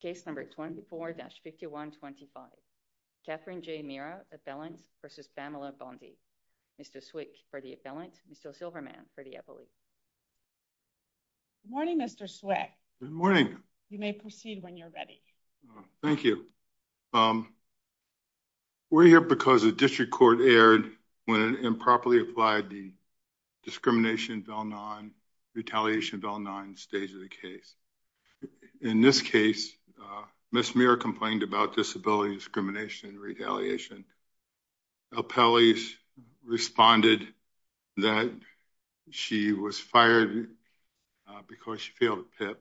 Case number 24-5125. Katherine J. Mera, affelent, versus Pamela Bondi. Mr. Swick for the affelent, Mr. Silverman for the affiliate. Good morning Mr. Swick. Good morning. You may proceed when you're ready. Thank you. We're here because the district court erred when it improperly applied the discrimination of L9, retaliation of L9 stage of the case. In this case, Ms. Mera complained about disability discrimination and retaliation. Appellees responded that she was fired because she failed PIP.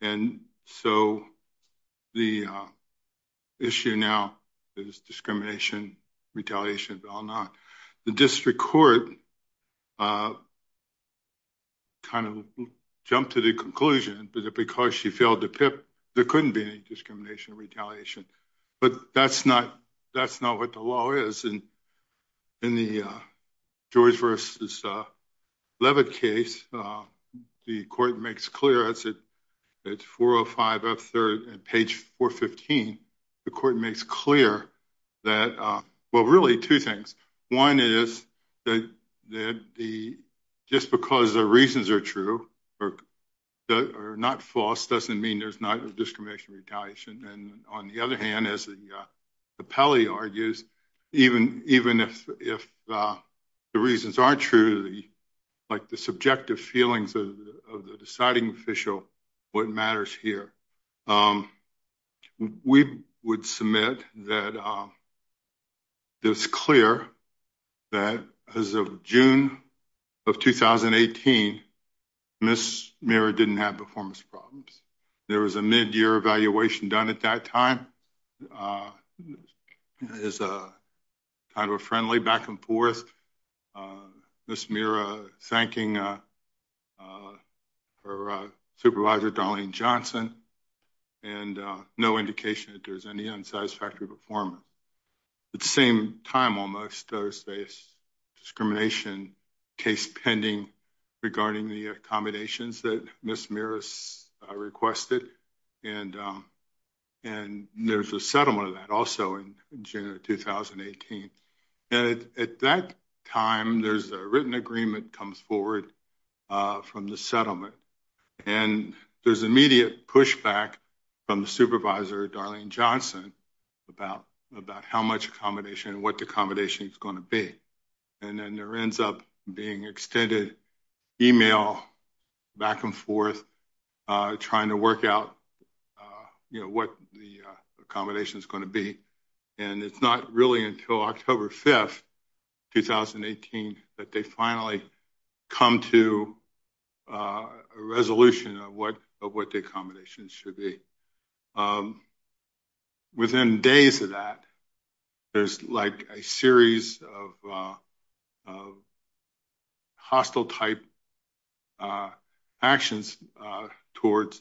And so the issue now is discrimination, retaliation of L9. The kind of jumped to the conclusion that because she failed the PIP, there couldn't be any discrimination or retaliation. But that's not, that's not what the law is. And in the George v. Leavitt case, the court makes clear, that's at 405 F3rd and page 415, the court makes clear that, well two things. One is that the, just because the reasons are true, or not false, doesn't mean there's not a discrimination, retaliation. And on the other hand, as the appellee argues, even if the reasons aren't true, like the subjective feelings of the deciding official, what matters here. We would submit that it's clear that as of June of 2018, Ms. Mera didn't have performance problems. There was a mid-year evaluation done at that time. It's a kind of a friendly back-and-forth. Ms. Mera thanking her supervisor Darlene Johnson and no indication that there's any unsatisfactory performance. At the same time almost, there's a discrimination case pending regarding the accommodations that Ms. Mera requested. And there's a settlement of that also in June of 2018. At that time, there's a written agreement comes forward from the and there's immediate pushback from the supervisor Darlene Johnson about how much accommodation, what the accommodation is going to be. And then there ends up being extended email back and forth trying to work out, you know, what the accommodation is going to be. And it's not really until October 5th, 2018, that they finally come to a resolution of what the accommodations should be. Within days of that, there's like a series of hostile type actions towards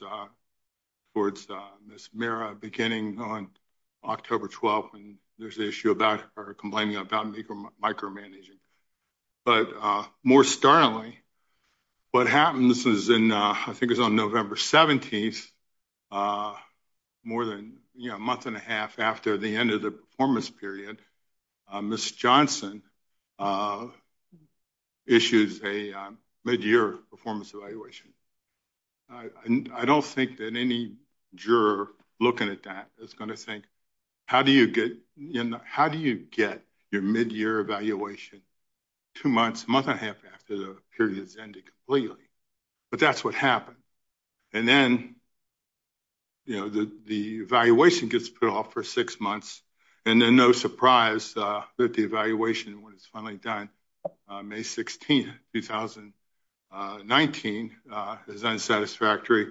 Ms. Mera beginning on October 12th. And there's the issue about complaining about micromanaging. But more startling, what happens is in, I think it's on November 17th, more than a month and a half after the end of the performance period, Ms. Johnson issues a mid-year performance evaluation. And I don't think that any juror looking at that is going to think, how do you get, you know, how do you get your mid-year evaluation two months, month and a half after the period has ended completely? But that's what happened. And then, you know, the evaluation gets put off for six months. And then no surprise that the evaluation was finally done May 16, 2019, as unsatisfactory,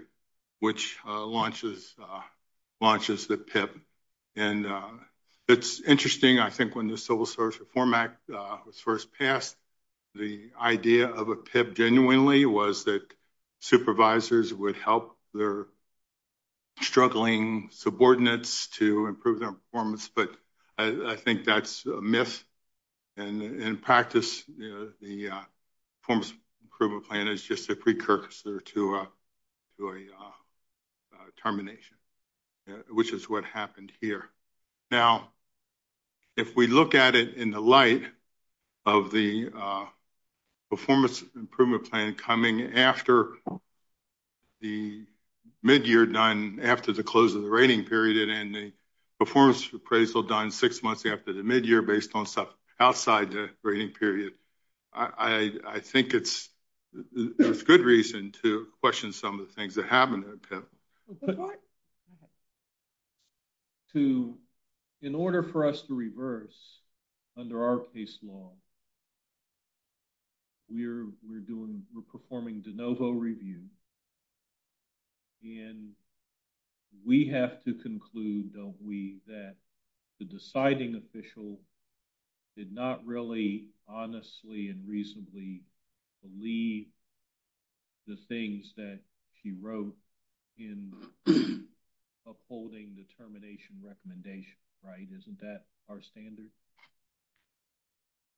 which launches the PIP. And it's interesting, I think when the Civil Service Reform Act was first passed, the idea of a PIP genuinely was that supervisors would help their struggling subordinates to improve their performance. But I think that's a myth. And in practice, you know, the performance improvement plan is just a precursor to a termination, which is what happened here. Now, if we look at it in the light of the performance improvement plan coming after the mid-year done, after the close of the rating period, and the performance appraisal done six months after the mid-year based on stuff outside the rating period, I think it's a good reason to question some of the things that happened at PIP. In order for us to reverse under our case law, we're doing, we're performing de novo review. And we have to conclude, don't we, that the deciding the things that she wrote in upholding the termination recommendation, right? Isn't that our standard?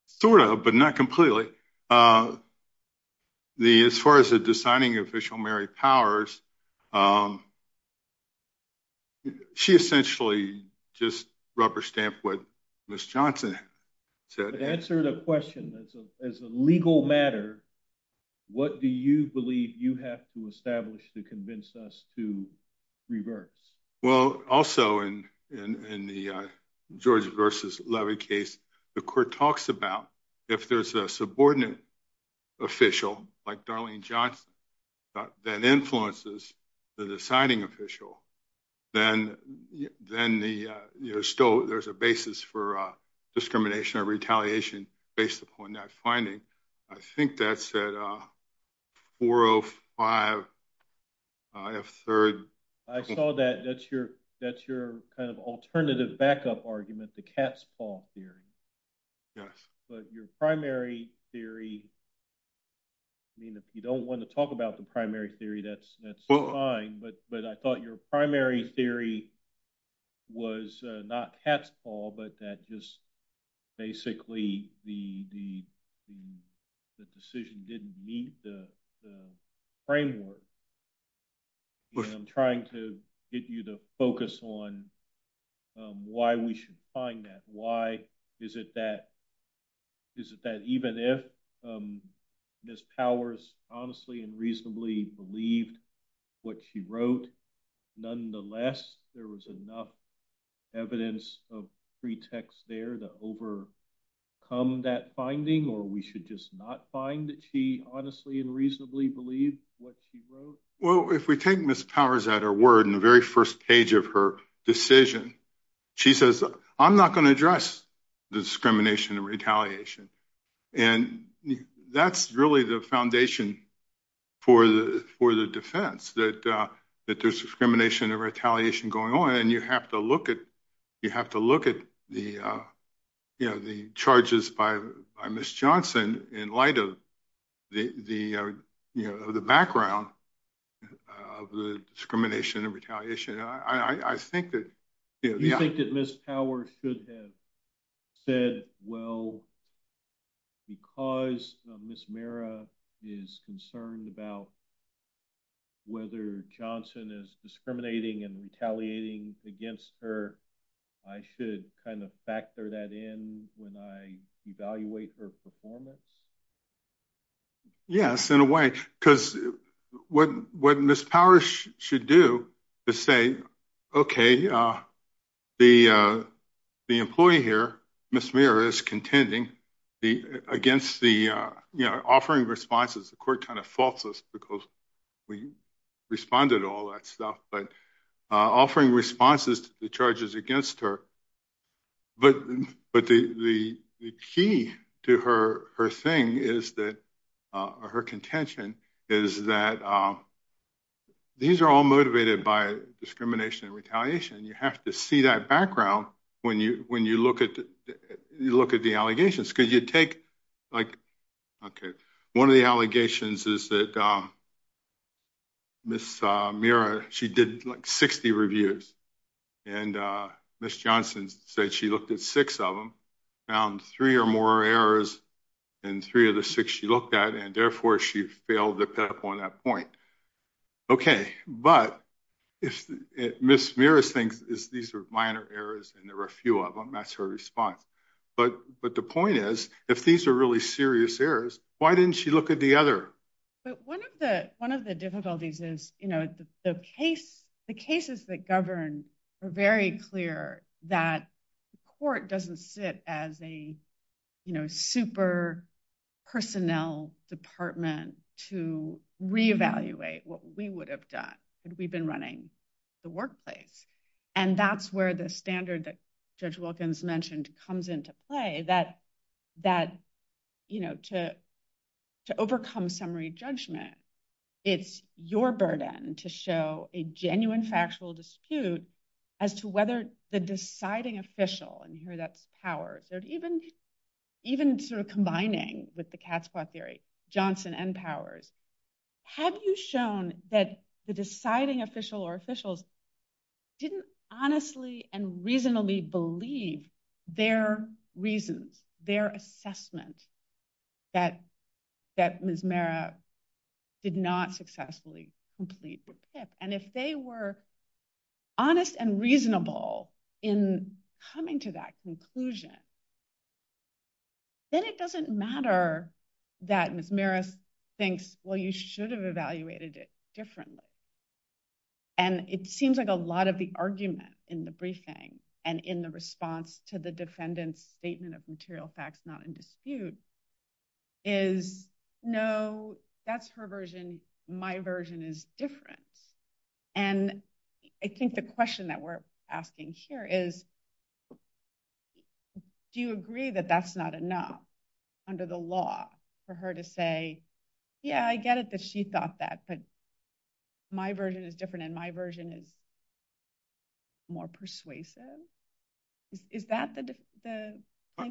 Sort of, but not completely. As far as the deciding official, Mary Powers, she essentially just rubber-stamped what Ms. Johnson said. To answer the question, as a legal matter, what do you believe you have to establish to convince us to reverse? Well, also in the George versus Levy case, the court talks about if there's a subordinate official, like Darlene Johnson, that influences the deciding official, then there's a basis for discrimination or retaliation based upon that finding. I think that's at 405 F3rd. I saw that. That's your kind of alternative backup argument, the cat's paw theory. Yes. But your primary theory, I mean, if you don't want to talk about the primary theory, that's fine, but I thought your primary theory was not cat's paw, but that just basically the decision didn't meet the framework. I'm trying to get you to focus on why we should find that. Why is it that even if Ms. Powers honestly and reasonably believed what she wrote, nonetheless there was enough evidence of pretext there to overcome that finding, or we should just not find that she honestly and reasonably believed what she wrote? Well, if we take Ms. Powers at her word in the very first page of her decision, she says, I'm not going to address the discrimination and retaliation, and that's really the foundation for the defense, that there's discrimination and retaliation going on, and you have to look at the, you know, the charges by Ms. Johnson in light of the background of the discrimination and retaliation. I think that Ms. Powers should have said, well, because Ms. Mira is concerned about whether Johnson is discriminating and retaliating against her, I should kind of factor that in when I evaluate her performance. Yes, in a way, because what Ms. Powers should do to say, okay, the employee here, Ms. Mira, is contending against the, you know, offering responses, the court kind of faults us because we responded to all that stuff, but offering responses to the charges against her, but the key to her thing is that, or her contention, is that these are all motivated by discrimination and retaliation. You have to see that background when you look at the allegations, because you take, like, okay, one of the allegations is that Ms. Mira, she did like 60 reviews, and Ms. Johnson said she looked at six of them, found three or more errors in three of the six she looked at, and therefore she failed to pick up on that point. Okay, but if Ms. Mira thinks these are minor errors and there were a few of them, that's her response, but the point is, if these are really serious errors, why didn't she look at the other? One of the difficulties is, you know, the cases that govern are very clear that the court doesn't sit as a, you know, super personnel department to re-evaluate what we would have done had we been running the workplace, and that's where the standard that Judge Wilkins mentioned comes into play, that, you know, to overcome summary judgment, it's your burden to show a genuine factual dispute as to whether the deciding official, and here that's Powers, or even sort of combining with the cat's paw theory, Johnson and Powers, have you shown that the deciding official or officials didn't honestly and reasonably believe their reasons, their assessment that Ms. Mira did not successfully complete her PIP, and if they were honest and reasonable in coming to that conclusion, then it doesn't matter that Ms. Mira thinks, well, you should have evaluated it differently, and it seems like a lot of the argument in the briefing and in the response to the defendant's statement of material facts not in dispute is, no, that's her version, my version is different, and I think the question that we're asking here is, do you agree that that's not enough under the law for her to say, yeah, I get it that she thought that, but my version is different, and my version is more persuasive? Is that the...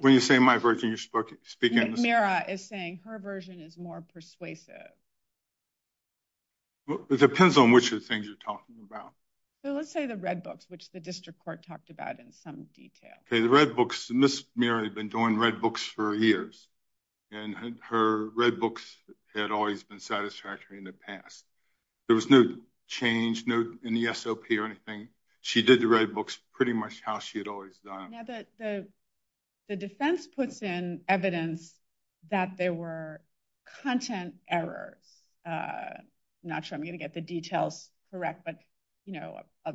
When you say my version, you're speaking... Mira is saying her version is more persuasive. Well, it depends on which of the things you're talking about. So let's say the red books, which the district court talked about in some detail. Okay, the red books, Ms. Mira had been doing red books for years, and her red books had always been satisfactory in the past. There was no change in the SOP or anything. She did the red books pretty much how she had always done. The defense puts in evidence that there were content errors. I'm not sure I'm going to get the details correct, but, you know, a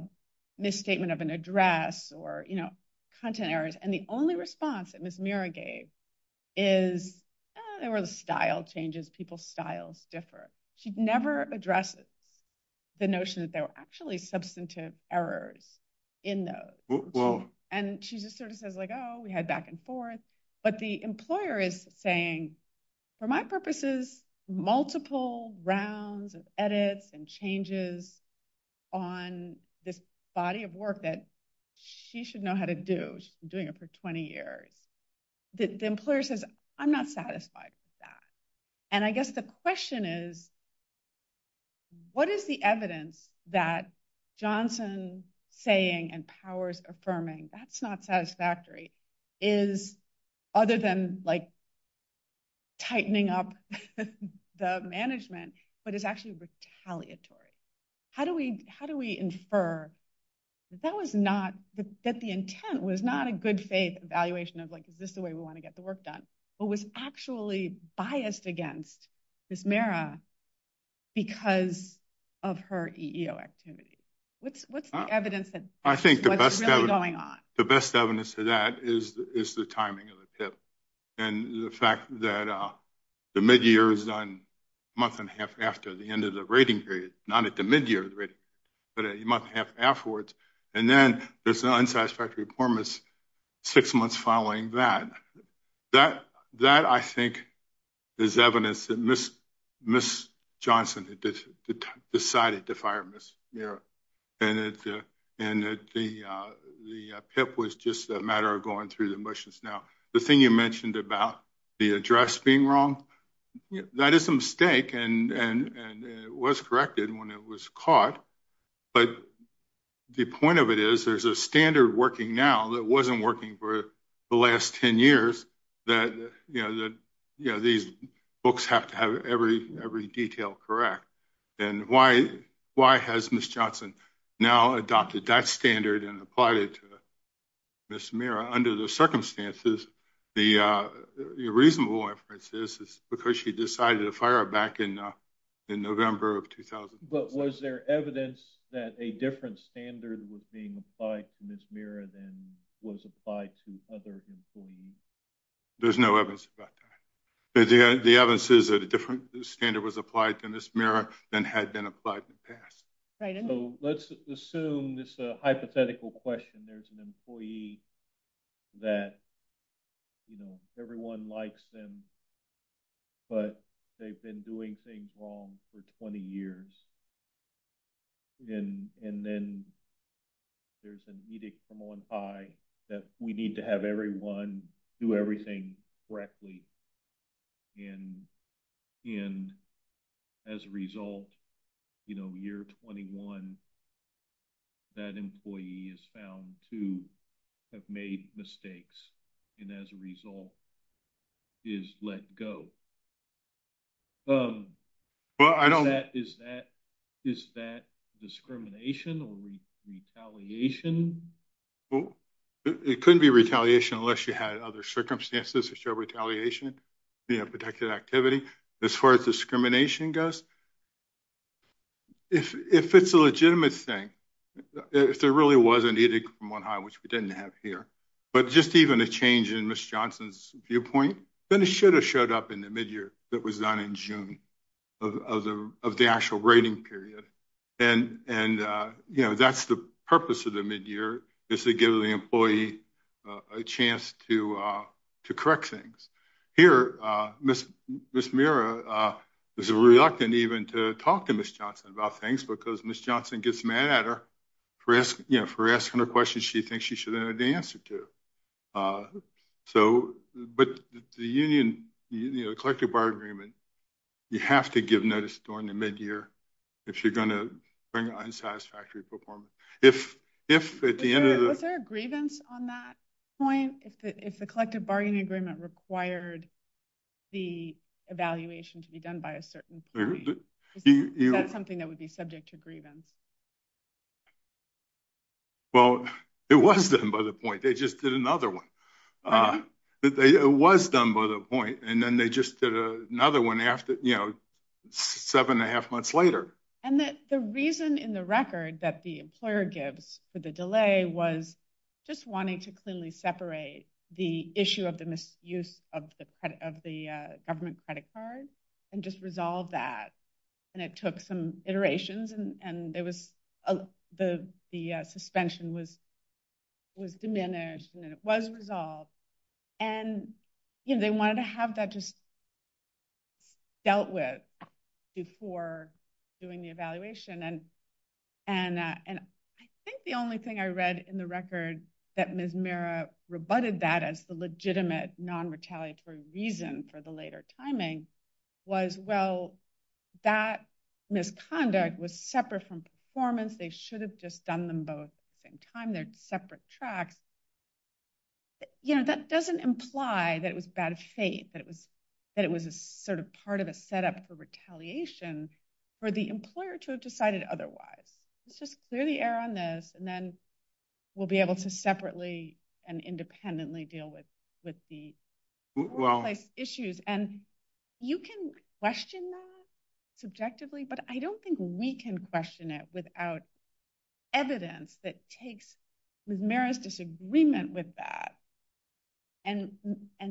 misstatement of an address or, you know, content errors, and the only thing I can say is that she never addresses the notion that there were actually substantive errors in those. And she just sort of says, like, oh, we had back and forth, but the employer is saying, for my purposes, multiple rounds of edits and changes on this body of work that she should know how to do. She's been doing it for 20 years. The employer says, I'm not satisfied with that. And I guess the question is, what is the evidence that Johnson saying and powers affirming, that's not satisfactory, is, other than, like, tightening up the management, but is actually retaliatory. How do we infer that the intent was not a good faith evaluation of, like, is this the way we want to get the work done, but was actually biased against Ms. Mehra because of her EEO activity? What's the evidence that's really going on? I think the best evidence of that is the timing of the PIP, and the fact that the mid-year is done a month and a half after the end of the rating period, not at the mid-year, but a month and a half afterwards, and then there's an unsatisfactory performance six months following that. That, I think, is evidence that Ms. Johnson decided to fire Ms. Mehra, and the PIP was just a matter of going through the motions. Now, the thing you mentioned about the address being wrong, that is a mistake, and it was corrected when it was caught, but the point of it is, there's a standard working now that wasn't working for the last 10 years that these folks have to have every detail correct, and why has Ms. Johnson now adopted that standard and applied it to Ms. Mehra under the circumstances? The reasonable inference is because she decided to fire her back in November of 2000. But was there evidence that a different standard was being applied to Ms. Mehra than was applied to other employees? There's no evidence about that. The evidence is that a different standard was applied to Ms. Mehra than had been applied in the past. So, let's assume this hypothetical question. There's an employee that, you know, everyone likes them, but they've been doing things wrong for 20 years, and then there's an edict from on high that we need to have everyone do everything correctly, and as a result, you know, year 21, that employee is found to have made mistakes, and as a result is let go. Is that discrimination or retaliation? Well, it couldn't be retaliation unless you had other circumstances to show retaliation, you know, protected activity. As far as discrimination goes, if it's a legitimate thing, if there really was an edict from on high, which we didn't have here, but just even a change in Ms. Johnson's viewpoint, then it should have showed up in the mid-year that was done in June of the actual rating period, and, you know, that's the purpose of the mid-year is to give the employee a chance to correct things. Here, Ms. Mehra is reluctant even to talk to Ms. Johnson about things because Ms. Johnson gets mad at her for asking her questions she thinks she should know the answer to. But the collective bargaining agreement, you have to give notice during the mid-year if you're going to bring an unsatisfactory performance. Was there a grievance on that point, if the collective bargaining agreement required the evaluation to be done by a certain point? Is that something that would be subject to grievance? Well, it was done by the point, they just did another one. It was done by the point, and then they just did another one after, you know, seven and a half months later. And the reason in the record that the employer gives for the delay was just wanting to clearly separate the issue of the use of the government credit card and just resolve that. And it took some iterations and the suspension was diminished and it was resolved. And, you know, they wanted to have that just dealt with before doing the evaluation. And I think the only thing I read in the record that Ms. Mira rebutted that as the legitimate non-retaliatory reason for the later timing was, well, that misconduct was separate from performance. They should have just done them both at the same time. They're separate tracks. You know, that doesn't imply that it was bad fate, that it was a sort of part of a setup for retaliation for the employer to have decided otherwise. Let's just clear the air on this and then we'll be able to separately and independently deal with the workplace issues. And you can question that subjectively, but I don't think we can question it without evidence that takes Ms. Mira's disagreement with that and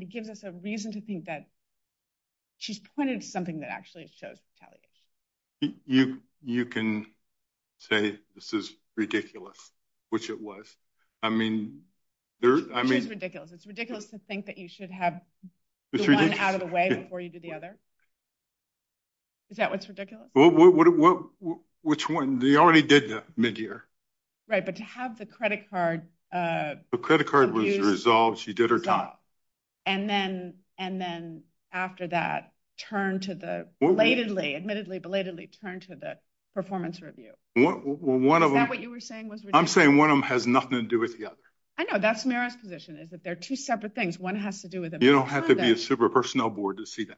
gives us a reason to think that she's pointed to something that actually shows retaliation. You can say this is ridiculous, which it was. I mean, I mean. It's ridiculous. It's ridiculous to think that you should have one out of the way before you do the other. Is that what's ridiculous? Which one? They already did that mid-year. Right, but to have the credit card. The credit card was resolved. She did her job. And then after that, admittedly, belatedly turned to the performance review. Is that what you were saying? I'm saying one of them has nothing to do with the other. I know that's Mira's position is that they're two separate things. One has to do with them. You don't have to be a super personnel board to see that.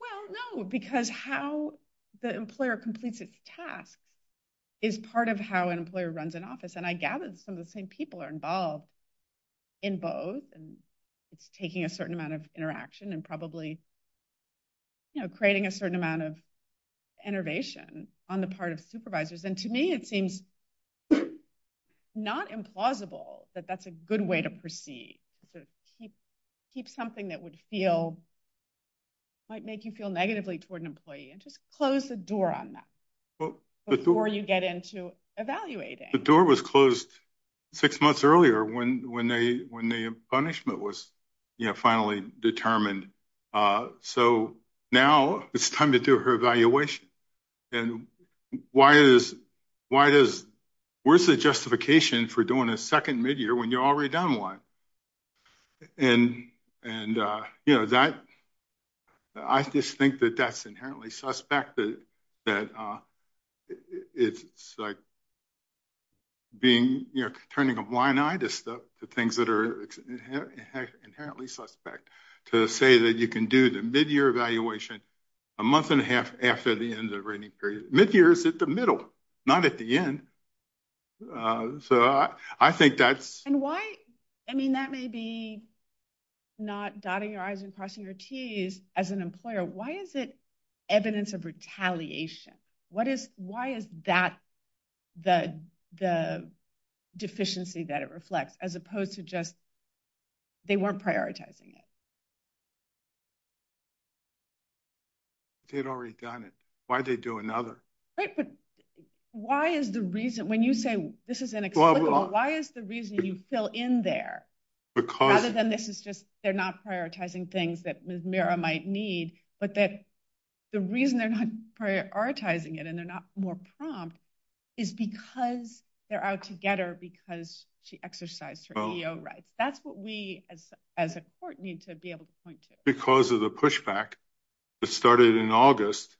Well, no, because how the employer completes its tasks is part of how an employer runs an office. And I gather some of the same are involved in both. And it's taking a certain amount of interaction and probably creating a certain amount of innervation on the part of supervisors. And to me, it seems not implausible that that's a good way to proceed. Keep something that would feel might make you feel negatively toward an employee and just close the door on that before you get into evaluating. The door was closed six months earlier when the punishment was finally determined. So now it's time to do her evaluation. And where's the justification for doing a second mid-year when you're already done one? And I just think that that's inherently suspect that it's like turning a blind eye to things that are inherently suspect to say that you can do the mid-year evaluation a month and a half after the end of the rating period. Mid-year is at the middle, not at the end. So I think that's. And why? I mean, that may be not dotting your I's and crossing your T's as an employer. Why is it evidence of retaliation? Why is that the deficiency that it reflects as opposed to just they weren't prioritizing it? They'd already done it. Why'd they do another? Right. But why is the reason when you say this is inexplicable, why is the reason you fill in there because other than this is just they're not prioritizing things that Miss Mira might need, but that the reason they're not prioritizing it and they're not more prompt is because they're out to get her because she exercised her EEO rights. That's what we as a court need to be able to point to. Because of the pushback that started in August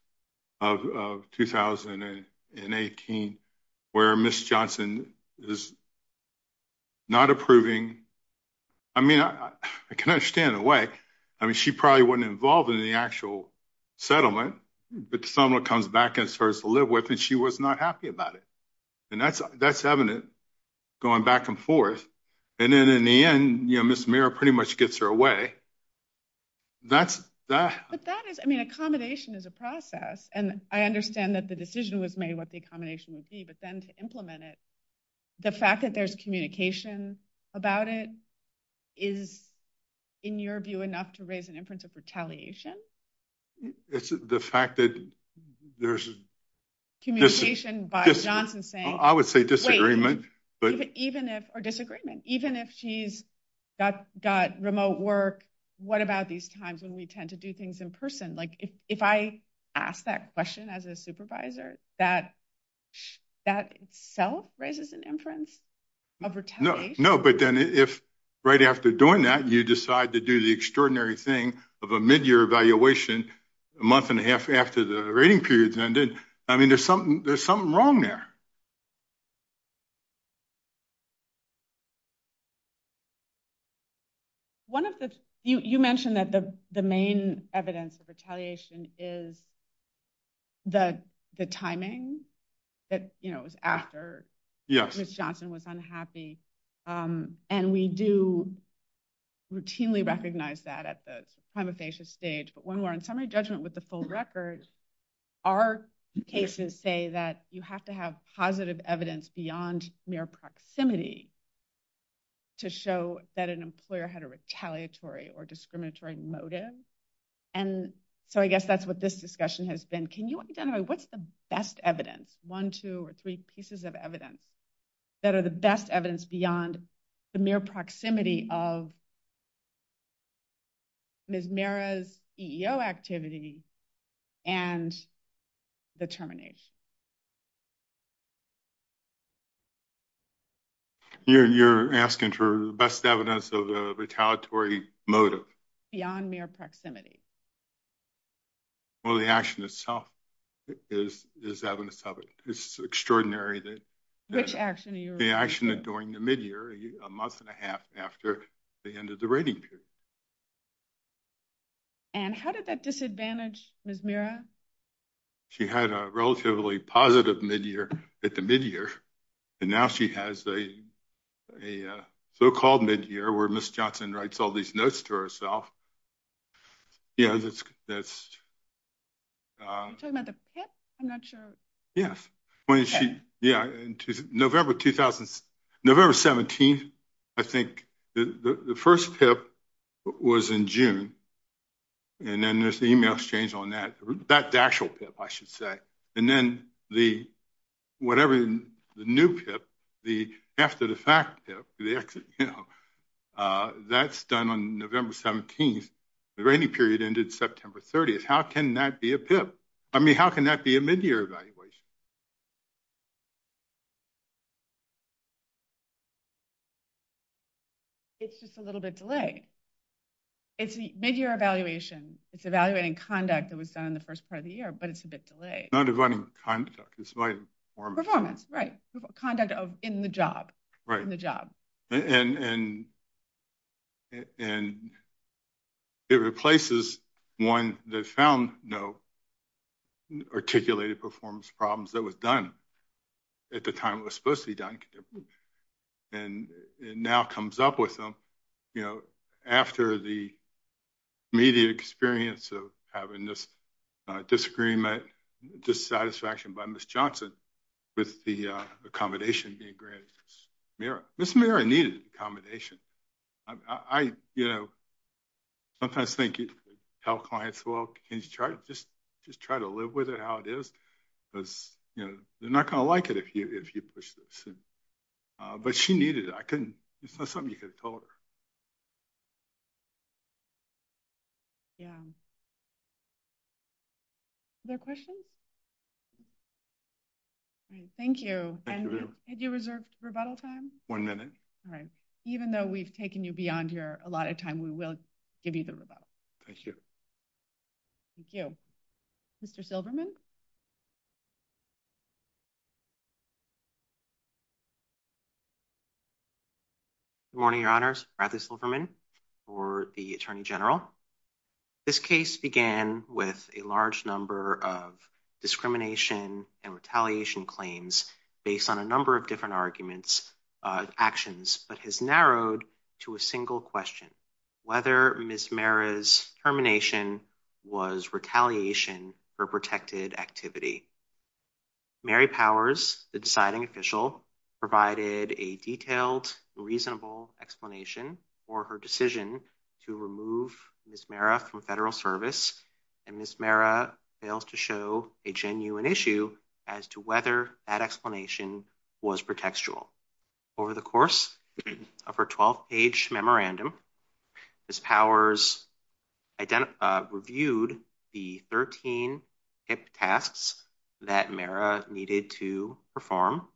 of 2018 where Miss Johnson is not approving. I mean, I can understand the way. I mean, she probably wasn't involved in the actual settlement, but someone comes back and starts to live with and she was not happy about it. And that's evident going back and forth. And then in the end, you know, Miss Mira pretty much gets her away. That's that. But that is, I mean, accommodation is a process. And I understand that the decision was made what the accommodation would be, but then to implement it, the fact that there's communication about it is in your view enough to raise an inference of retaliation. It's the fact that there's communication by Johnson I would say disagreement, but even if, or disagreement, even if she's got remote work, what about these times when we tend to do things in person? Like if I ask that question as a supervisor, that itself raises an inference of retaliation. No, but then if right after doing that, you decide to do the extraordinary thing of a mid-year evaluation a month and a half after the rating periods ended, I mean, there's something, there's something wrong there. One of the, you mentioned that the main evidence of retaliation is the timing that, you know, it was after Miss Johnson was unhappy. And we do routinely recognize that at the prima facie stage, when we're on summary judgment with the full record, our cases say that you have to have positive evidence beyond mere proximity to show that an employer had a retaliatory or discriminatory motive. And so I guess that's what this discussion has been. Can you identify what's the best evidence, one, two, or three pieces of evidence that are the best evidence beyond the mere proximity of Ms. Mera's EEO activity and the termination? You're asking for the best evidence of a retaliatory motive. Beyond mere proximity. Well, the action itself is evidence of it. It's extraordinary that. Which action are you referring to? The action during the mid-year, a month and a half after the end of the rating period. And how did that disadvantage Ms. Mera? She had a relatively positive mid-year at the mid-year, and now she has a so-called mid-year where Ms. Johnson writes all these notes to herself. Yeah, that's, that's. Are you talking about the PIP? I'm not sure. Yes, when she, yeah, in November 2017, I think the first PIP was in June. And then there's the email exchange on that, that actual PIP, I should say. And then the, whatever the new PIP, the after the fact PIP, the exit, you know, that's done on November 17th. The rating period ended September 30th. How can that be a PIP? I mean, how can that be a mid-year evaluation? It's just a little bit delayed. It's a mid-year evaluation. It's evaluating conduct that was done in the first part of the year, but it's a bit delayed. Not evaluating conduct, it's about performance. Performance, right. Conduct of, in the job. Right. In the job. And it replaces one that found no articulated performance problems that was done at the time it was supposed to be done. And it now comes up with them, you know, after the immediate experience of having this disagreement, dissatisfaction by Ms. Johnson with the accommodation being granted. Ms. Merritt needed accommodation. I, you know, sometimes think you tell clients, well, can you just try to live with it how it is? Because, you know, they're not going to like it if you push this. But she needed it. I couldn't, it's not something you could have told her. Yeah. Other questions? All right. Thank you. Had you reserved rebuttal time? One minute. All right. Even though we've taken you beyond here a lot of time, we will give you the rebuttal. Thank you. Thank you. Mr. Silverman. Good morning, Your Honors. Bradley Silverman for the Attorney General. This case began with a large number of discrimination and retaliation claims based on a number of different arguments, actions, but has narrowed to a single question, whether Ms. Merritt's termination was retaliation for protected activity. Mary Powers, the deciding official, provided a detailed, reasonable explanation for her decision to remove Ms. Merritt from federal service, and Ms. Merritt fails to show a genuine issue as to whether that explanation was pretextual. Over the course of her 12-page memorandum, Ms. Powers reviewed the 13 HIPAA tasks that Merritt needed to perform.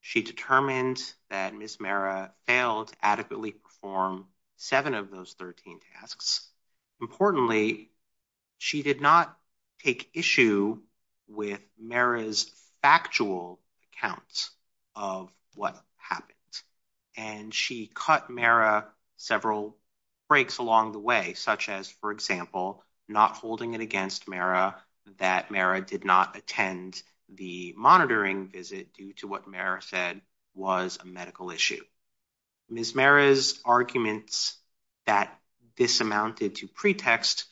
She determined that Ms. Merritt failed to adequately perform seven of those 13 tasks. Importantly, she did not take issue with Merritt's factual account of what happened, and she cut Merritt several breaks along the way, such as, for example, not holding it against Merritt that Merritt did not attend the monitoring visit due to what Merritt said was a medical issue. Ms. Merritt's arguments that this amounted to pretext,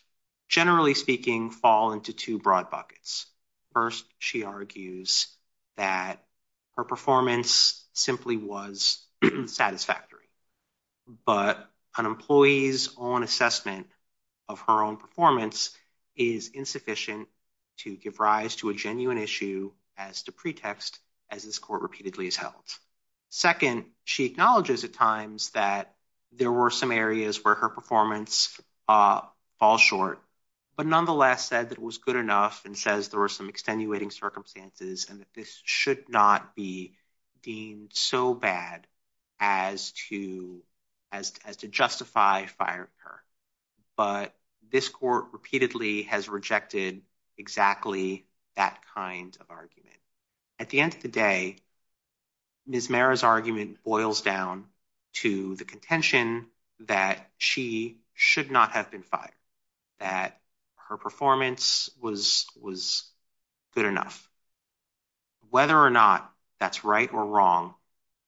generally speaking, fall into two broad buckets. First, she argues that her performance simply was satisfactory, but an employee's own assessment of her own performance is insufficient to give rise to a genuine issue as to pretext, as this court repeatedly has held. Second, she acknowledges at times that there were some areas where her performance falls short, but nonetheless said that it was good enough and says there were some extenuating circumstances and that this should not be deemed so bad as to justify firing her, but this court repeatedly has rejected exactly that kind of argument. At the end of the day, Ms. Merritt's argument boils down to the contention that she should not have been fired, that her performance was good enough. Whether or not that's right or wrong,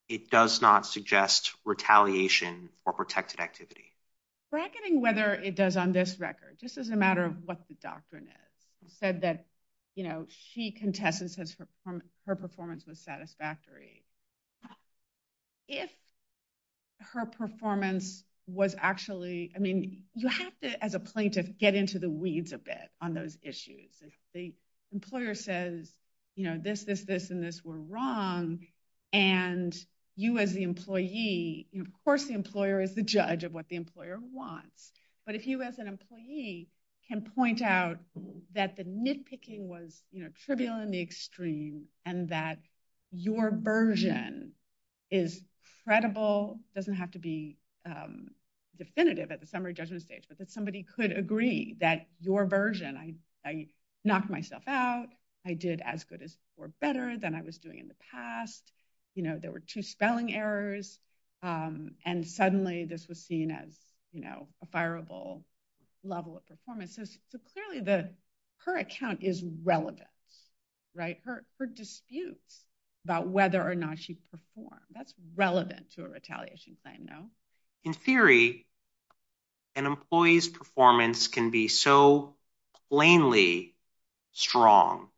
it does not suggest retaliation or protected activity. Bracketing whether it does on this record, just as a matter of what the doctrine is, said that, you know, she contests and says her performance was satisfactory. If her performance was actually, I mean, you have to, as a plaintiff, get into the weeds a bit on those issues. If the employer says, you know, this, this, this, and this were wrong, and you as the employee, you know, of course the employer is the judge of what the employer wants, but if you as an employee can point out that the nitpicking was, you know, trivial in the extreme and that your version is credible, doesn't have to be definitive at the summary judgment stage, that somebody could agree that your version, I knocked myself out, I did as good or better than I was doing in the past, you know, there were two spelling errors, and suddenly this was seen as, you know, a fireable level of performance. So clearly the, her account is relevant, right? Her, her disputes about whether or not she performed, that's relevant to a retaliation claim, In theory, an employee's performance can be so plainly strong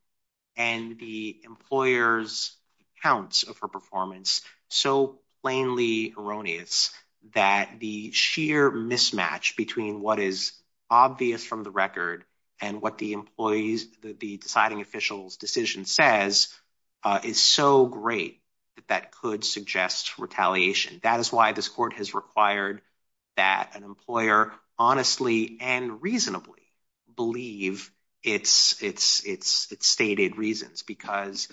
and the employer's accounts of her performance so plainly erroneous that the sheer mismatch between what is obvious from the record and what the employee's, the deciding official's decision says is so great that that could suggest retaliation. That is why this court has required that an employer honestly and reasonably believe its stated reasons, because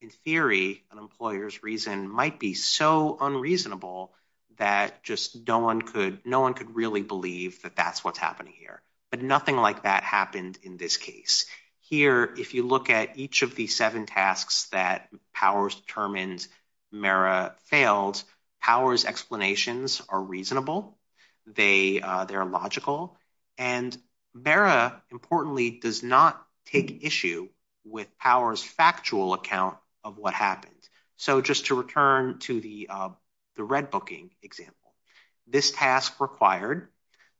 in theory an employer's reason might be so unreasonable that just no one could, no one could really believe that that's what's happening here. But nothing like that happened in this case. Here, if you look at each of the seven tasks that Powers determined Mara failed, Powers' explanations are reasonable, they, they're logical, and Mara importantly does not take issue with Powers' factual account of what happened. So just to return to the, the redbooking example, this task required,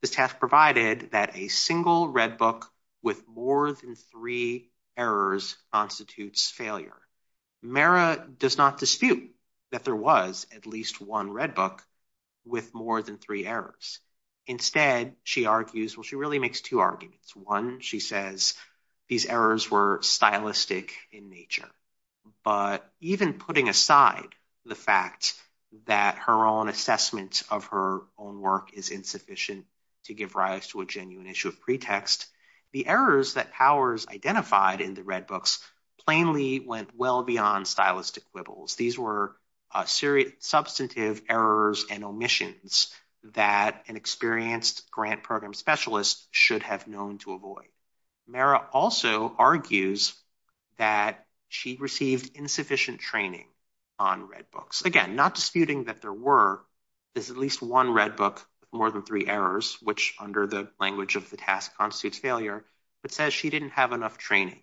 this task provided that a single redbook with more than three errors constitutes failure. Mara does not dispute that there was at least one redbook with more than three errors. Instead, she argues, well she really makes two arguments. One, she says these errors were stylistic in nature, but even putting aside the fact that her own assessment of her own work is insufficient to give rise to a genuine issue of pretext, the errors that Powers identified in the redbooks plainly went well beyond stylistic quibbles. These were serious substantive errors and omissions that an experienced grant program specialist should have known to avoid. Mara also argues that she received insufficient training on redbooks. Again, not disputing that there were at least one redbook with more than three errors, which under the language of the task constitutes failure, but says she didn't have enough training.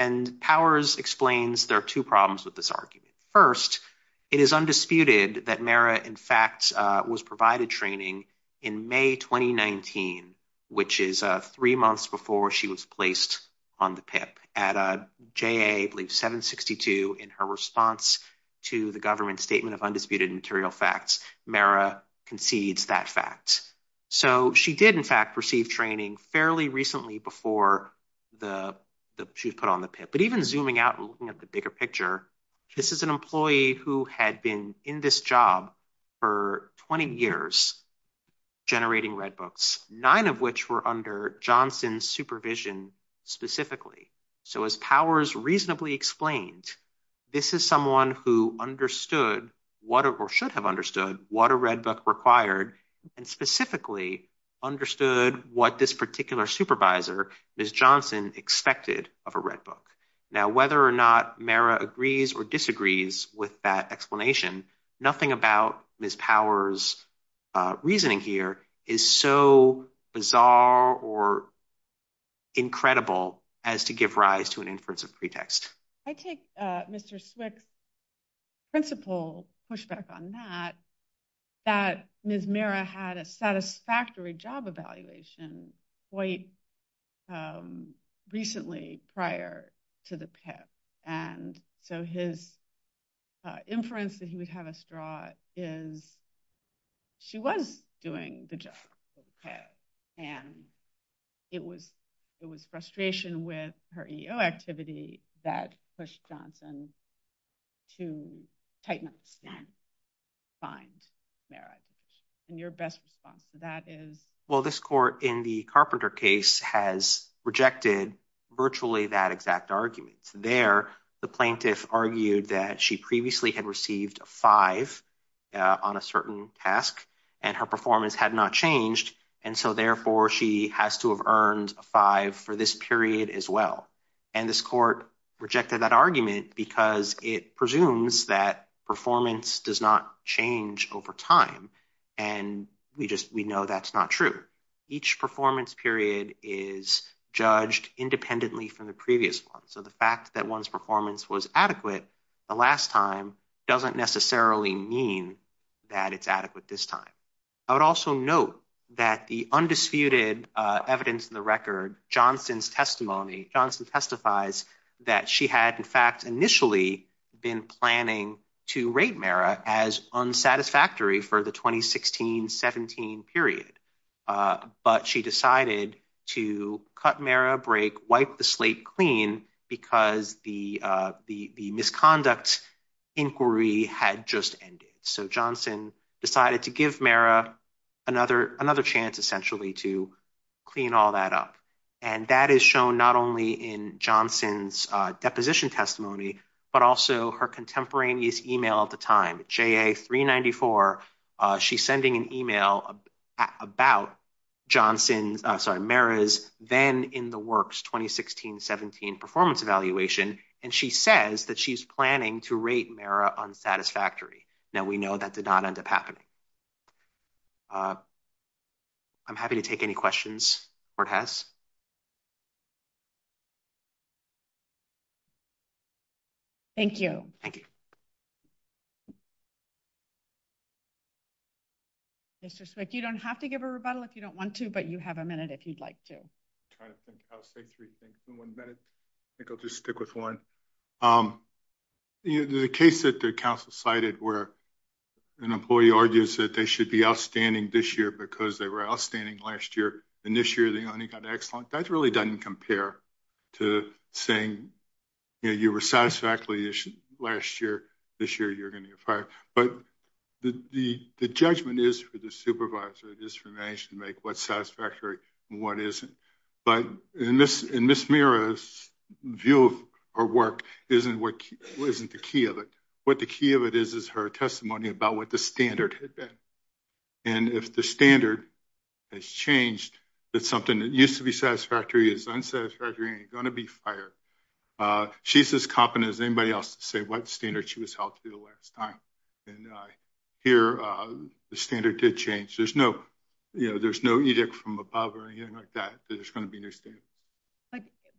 And Powers explains there are two problems with this argument. First, it is undisputed that Mara in fact was provided training in May 2019, which is three months before she was placed on the PIP at a JA, I believe 762, in her response to the government statement of undisputed material facts. Mara concedes that fact. So she did in fact receive training fairly recently before she was put on the PIP. But even zooming out and looking at the bigger picture, this is an employee who had been in this job for 20 years generating redbooks, nine of which were Johnson's supervision specifically. So as Powers reasonably explained, this is someone who understood what or should have understood what a redbook required and specifically understood what this particular supervisor, Ms. Johnson, expected of a redbook. Now whether or not Mara agrees or disagrees with that explanation, nothing about Ms. Powers' reasoning here is so bizarre or incredible as to give rise to an inference of pretext. I take Mr. Swick's principle pushback on that, that Ms. Mara had a satisfactory job evaluation quite recently prior to the PIP. And so his inference that he would have us draw is she was doing the job for the PIP. And it was frustration with her EEO activity that pushed Johnson to tighten up the stand and find Mara. And your best response to that is? Well, this court in the Carpenter case has rejected virtually that exact argument. There, the plaintiff argued that she previously had received a five on a certain task and her performance had not changed. And so therefore she has to have earned a five for this period as well. And this court rejected that argument because it presumes that performance does not change over time. And we just, we know that's not true. Each performance period is judged independently from the previous one. So the fact that one's performance was adequate the last time doesn't necessarily mean that it's adequate this time. I would also note that the undisputed evidence in the record, Johnson's testimony, Johnson testifies that she had in fact initially been planning to rate Mara as unsatisfactory for the 2016-17 period. But she decided to cut Mara a break, wipe the slate clean because the misconduct inquiry had just ended. So Johnson decided to give Mara another chance essentially to clean all that up. And that is shown not only in Johnson's deposition testimony, but also her contemporaneous email at the time, JA394. She's sending an email about Johnson's, sorry, Mara's then in the works 2016-17 performance evaluation. And she says that she's planning to rate Mara unsatisfactory. Now we know that did not end up happening. I'm happy to take any questions the court has. Thank you. Thank you. Mr. Swick, you don't have to give a rebuttal if you don't want to, but you have a minute if you'd like to. I'll say three things in one minute. I think I'll just stick with one. The case that the council cited where an employee argues that they should be outstanding this year because they were outstanding last year. And this year they only got excellent. That really doesn't compare to saying, you know, you were satisfactorily last year, this year you're going to get fired. But the judgment is for the supervisor. It is for the manager to make what's satisfactory and what isn't. But in Ms. Mara's view of her work isn't the key of it. What the key of it is, is her testimony about what the standard had been. And if the standard has changed, that something that used to be satisfactory is unsatisfactory and you're going to be fired. She's as competent as anybody else to say what standard she was held to the last time. And here the standard did change. There's no, you know, there's no edict from above or anything like that. There's going to be no standard.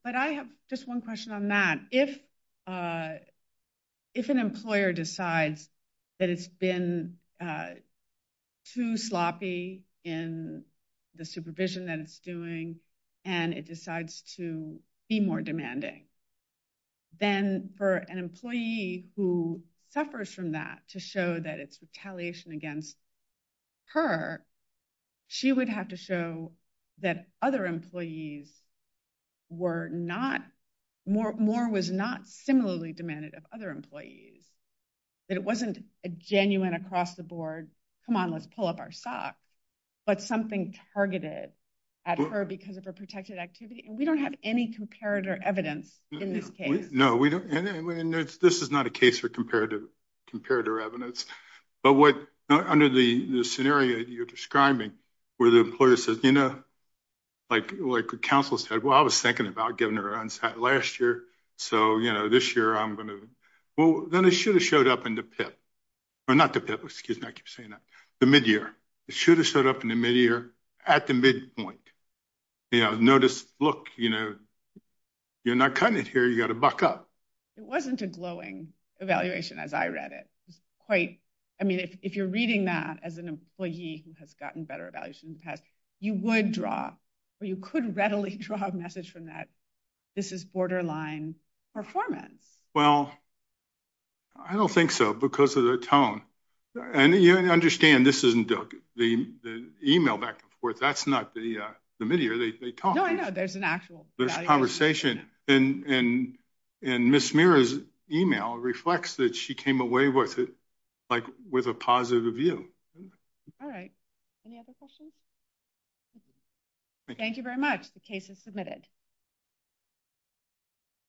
But I have just one question on that. If an employer decides that it's been too sloppy in the supervision that it's doing and it decides to be more demanding, then for an employee who suffers from that to show that it's retaliation against her, she would have to show that other employees were not, more was not similarly demanded of other employees. That it wasn't a genuine across the board, come on, pull up our sock, but something targeted at her because of her protected activity. And we don't have any comparative evidence in this case. No, we don't. And this is not a case for comparative evidence. But what, under the scenario that you're describing, where the employer says, you know, like the council said, well, I was thinking about giving her an onsite last year. So, you know, this year I'm going to, well, then it should have showed up in the PIP. Or not the PIP, excuse me, I keep saying that. The midyear. It should have showed up in the midyear at the midpoint. You know, notice, look, you know, you're not cutting it here, you got to buck up. It wasn't a glowing evaluation as I read it. It was quite, I mean, if you're reading that as an employee who has gotten better evaluation in the past, you would draw, or you could readily draw a message from that, this is borderline performance. Well, I don't think so, because of the tone. And you understand this isn't the email back and forth. That's not the midyear, they talk. No, I know, there's an actual evaluation. There's conversation. And Ms. Mira's email reflects that she came away with it, like with a positive view. All right. Any other questions? Thank you very much. The case is submitted.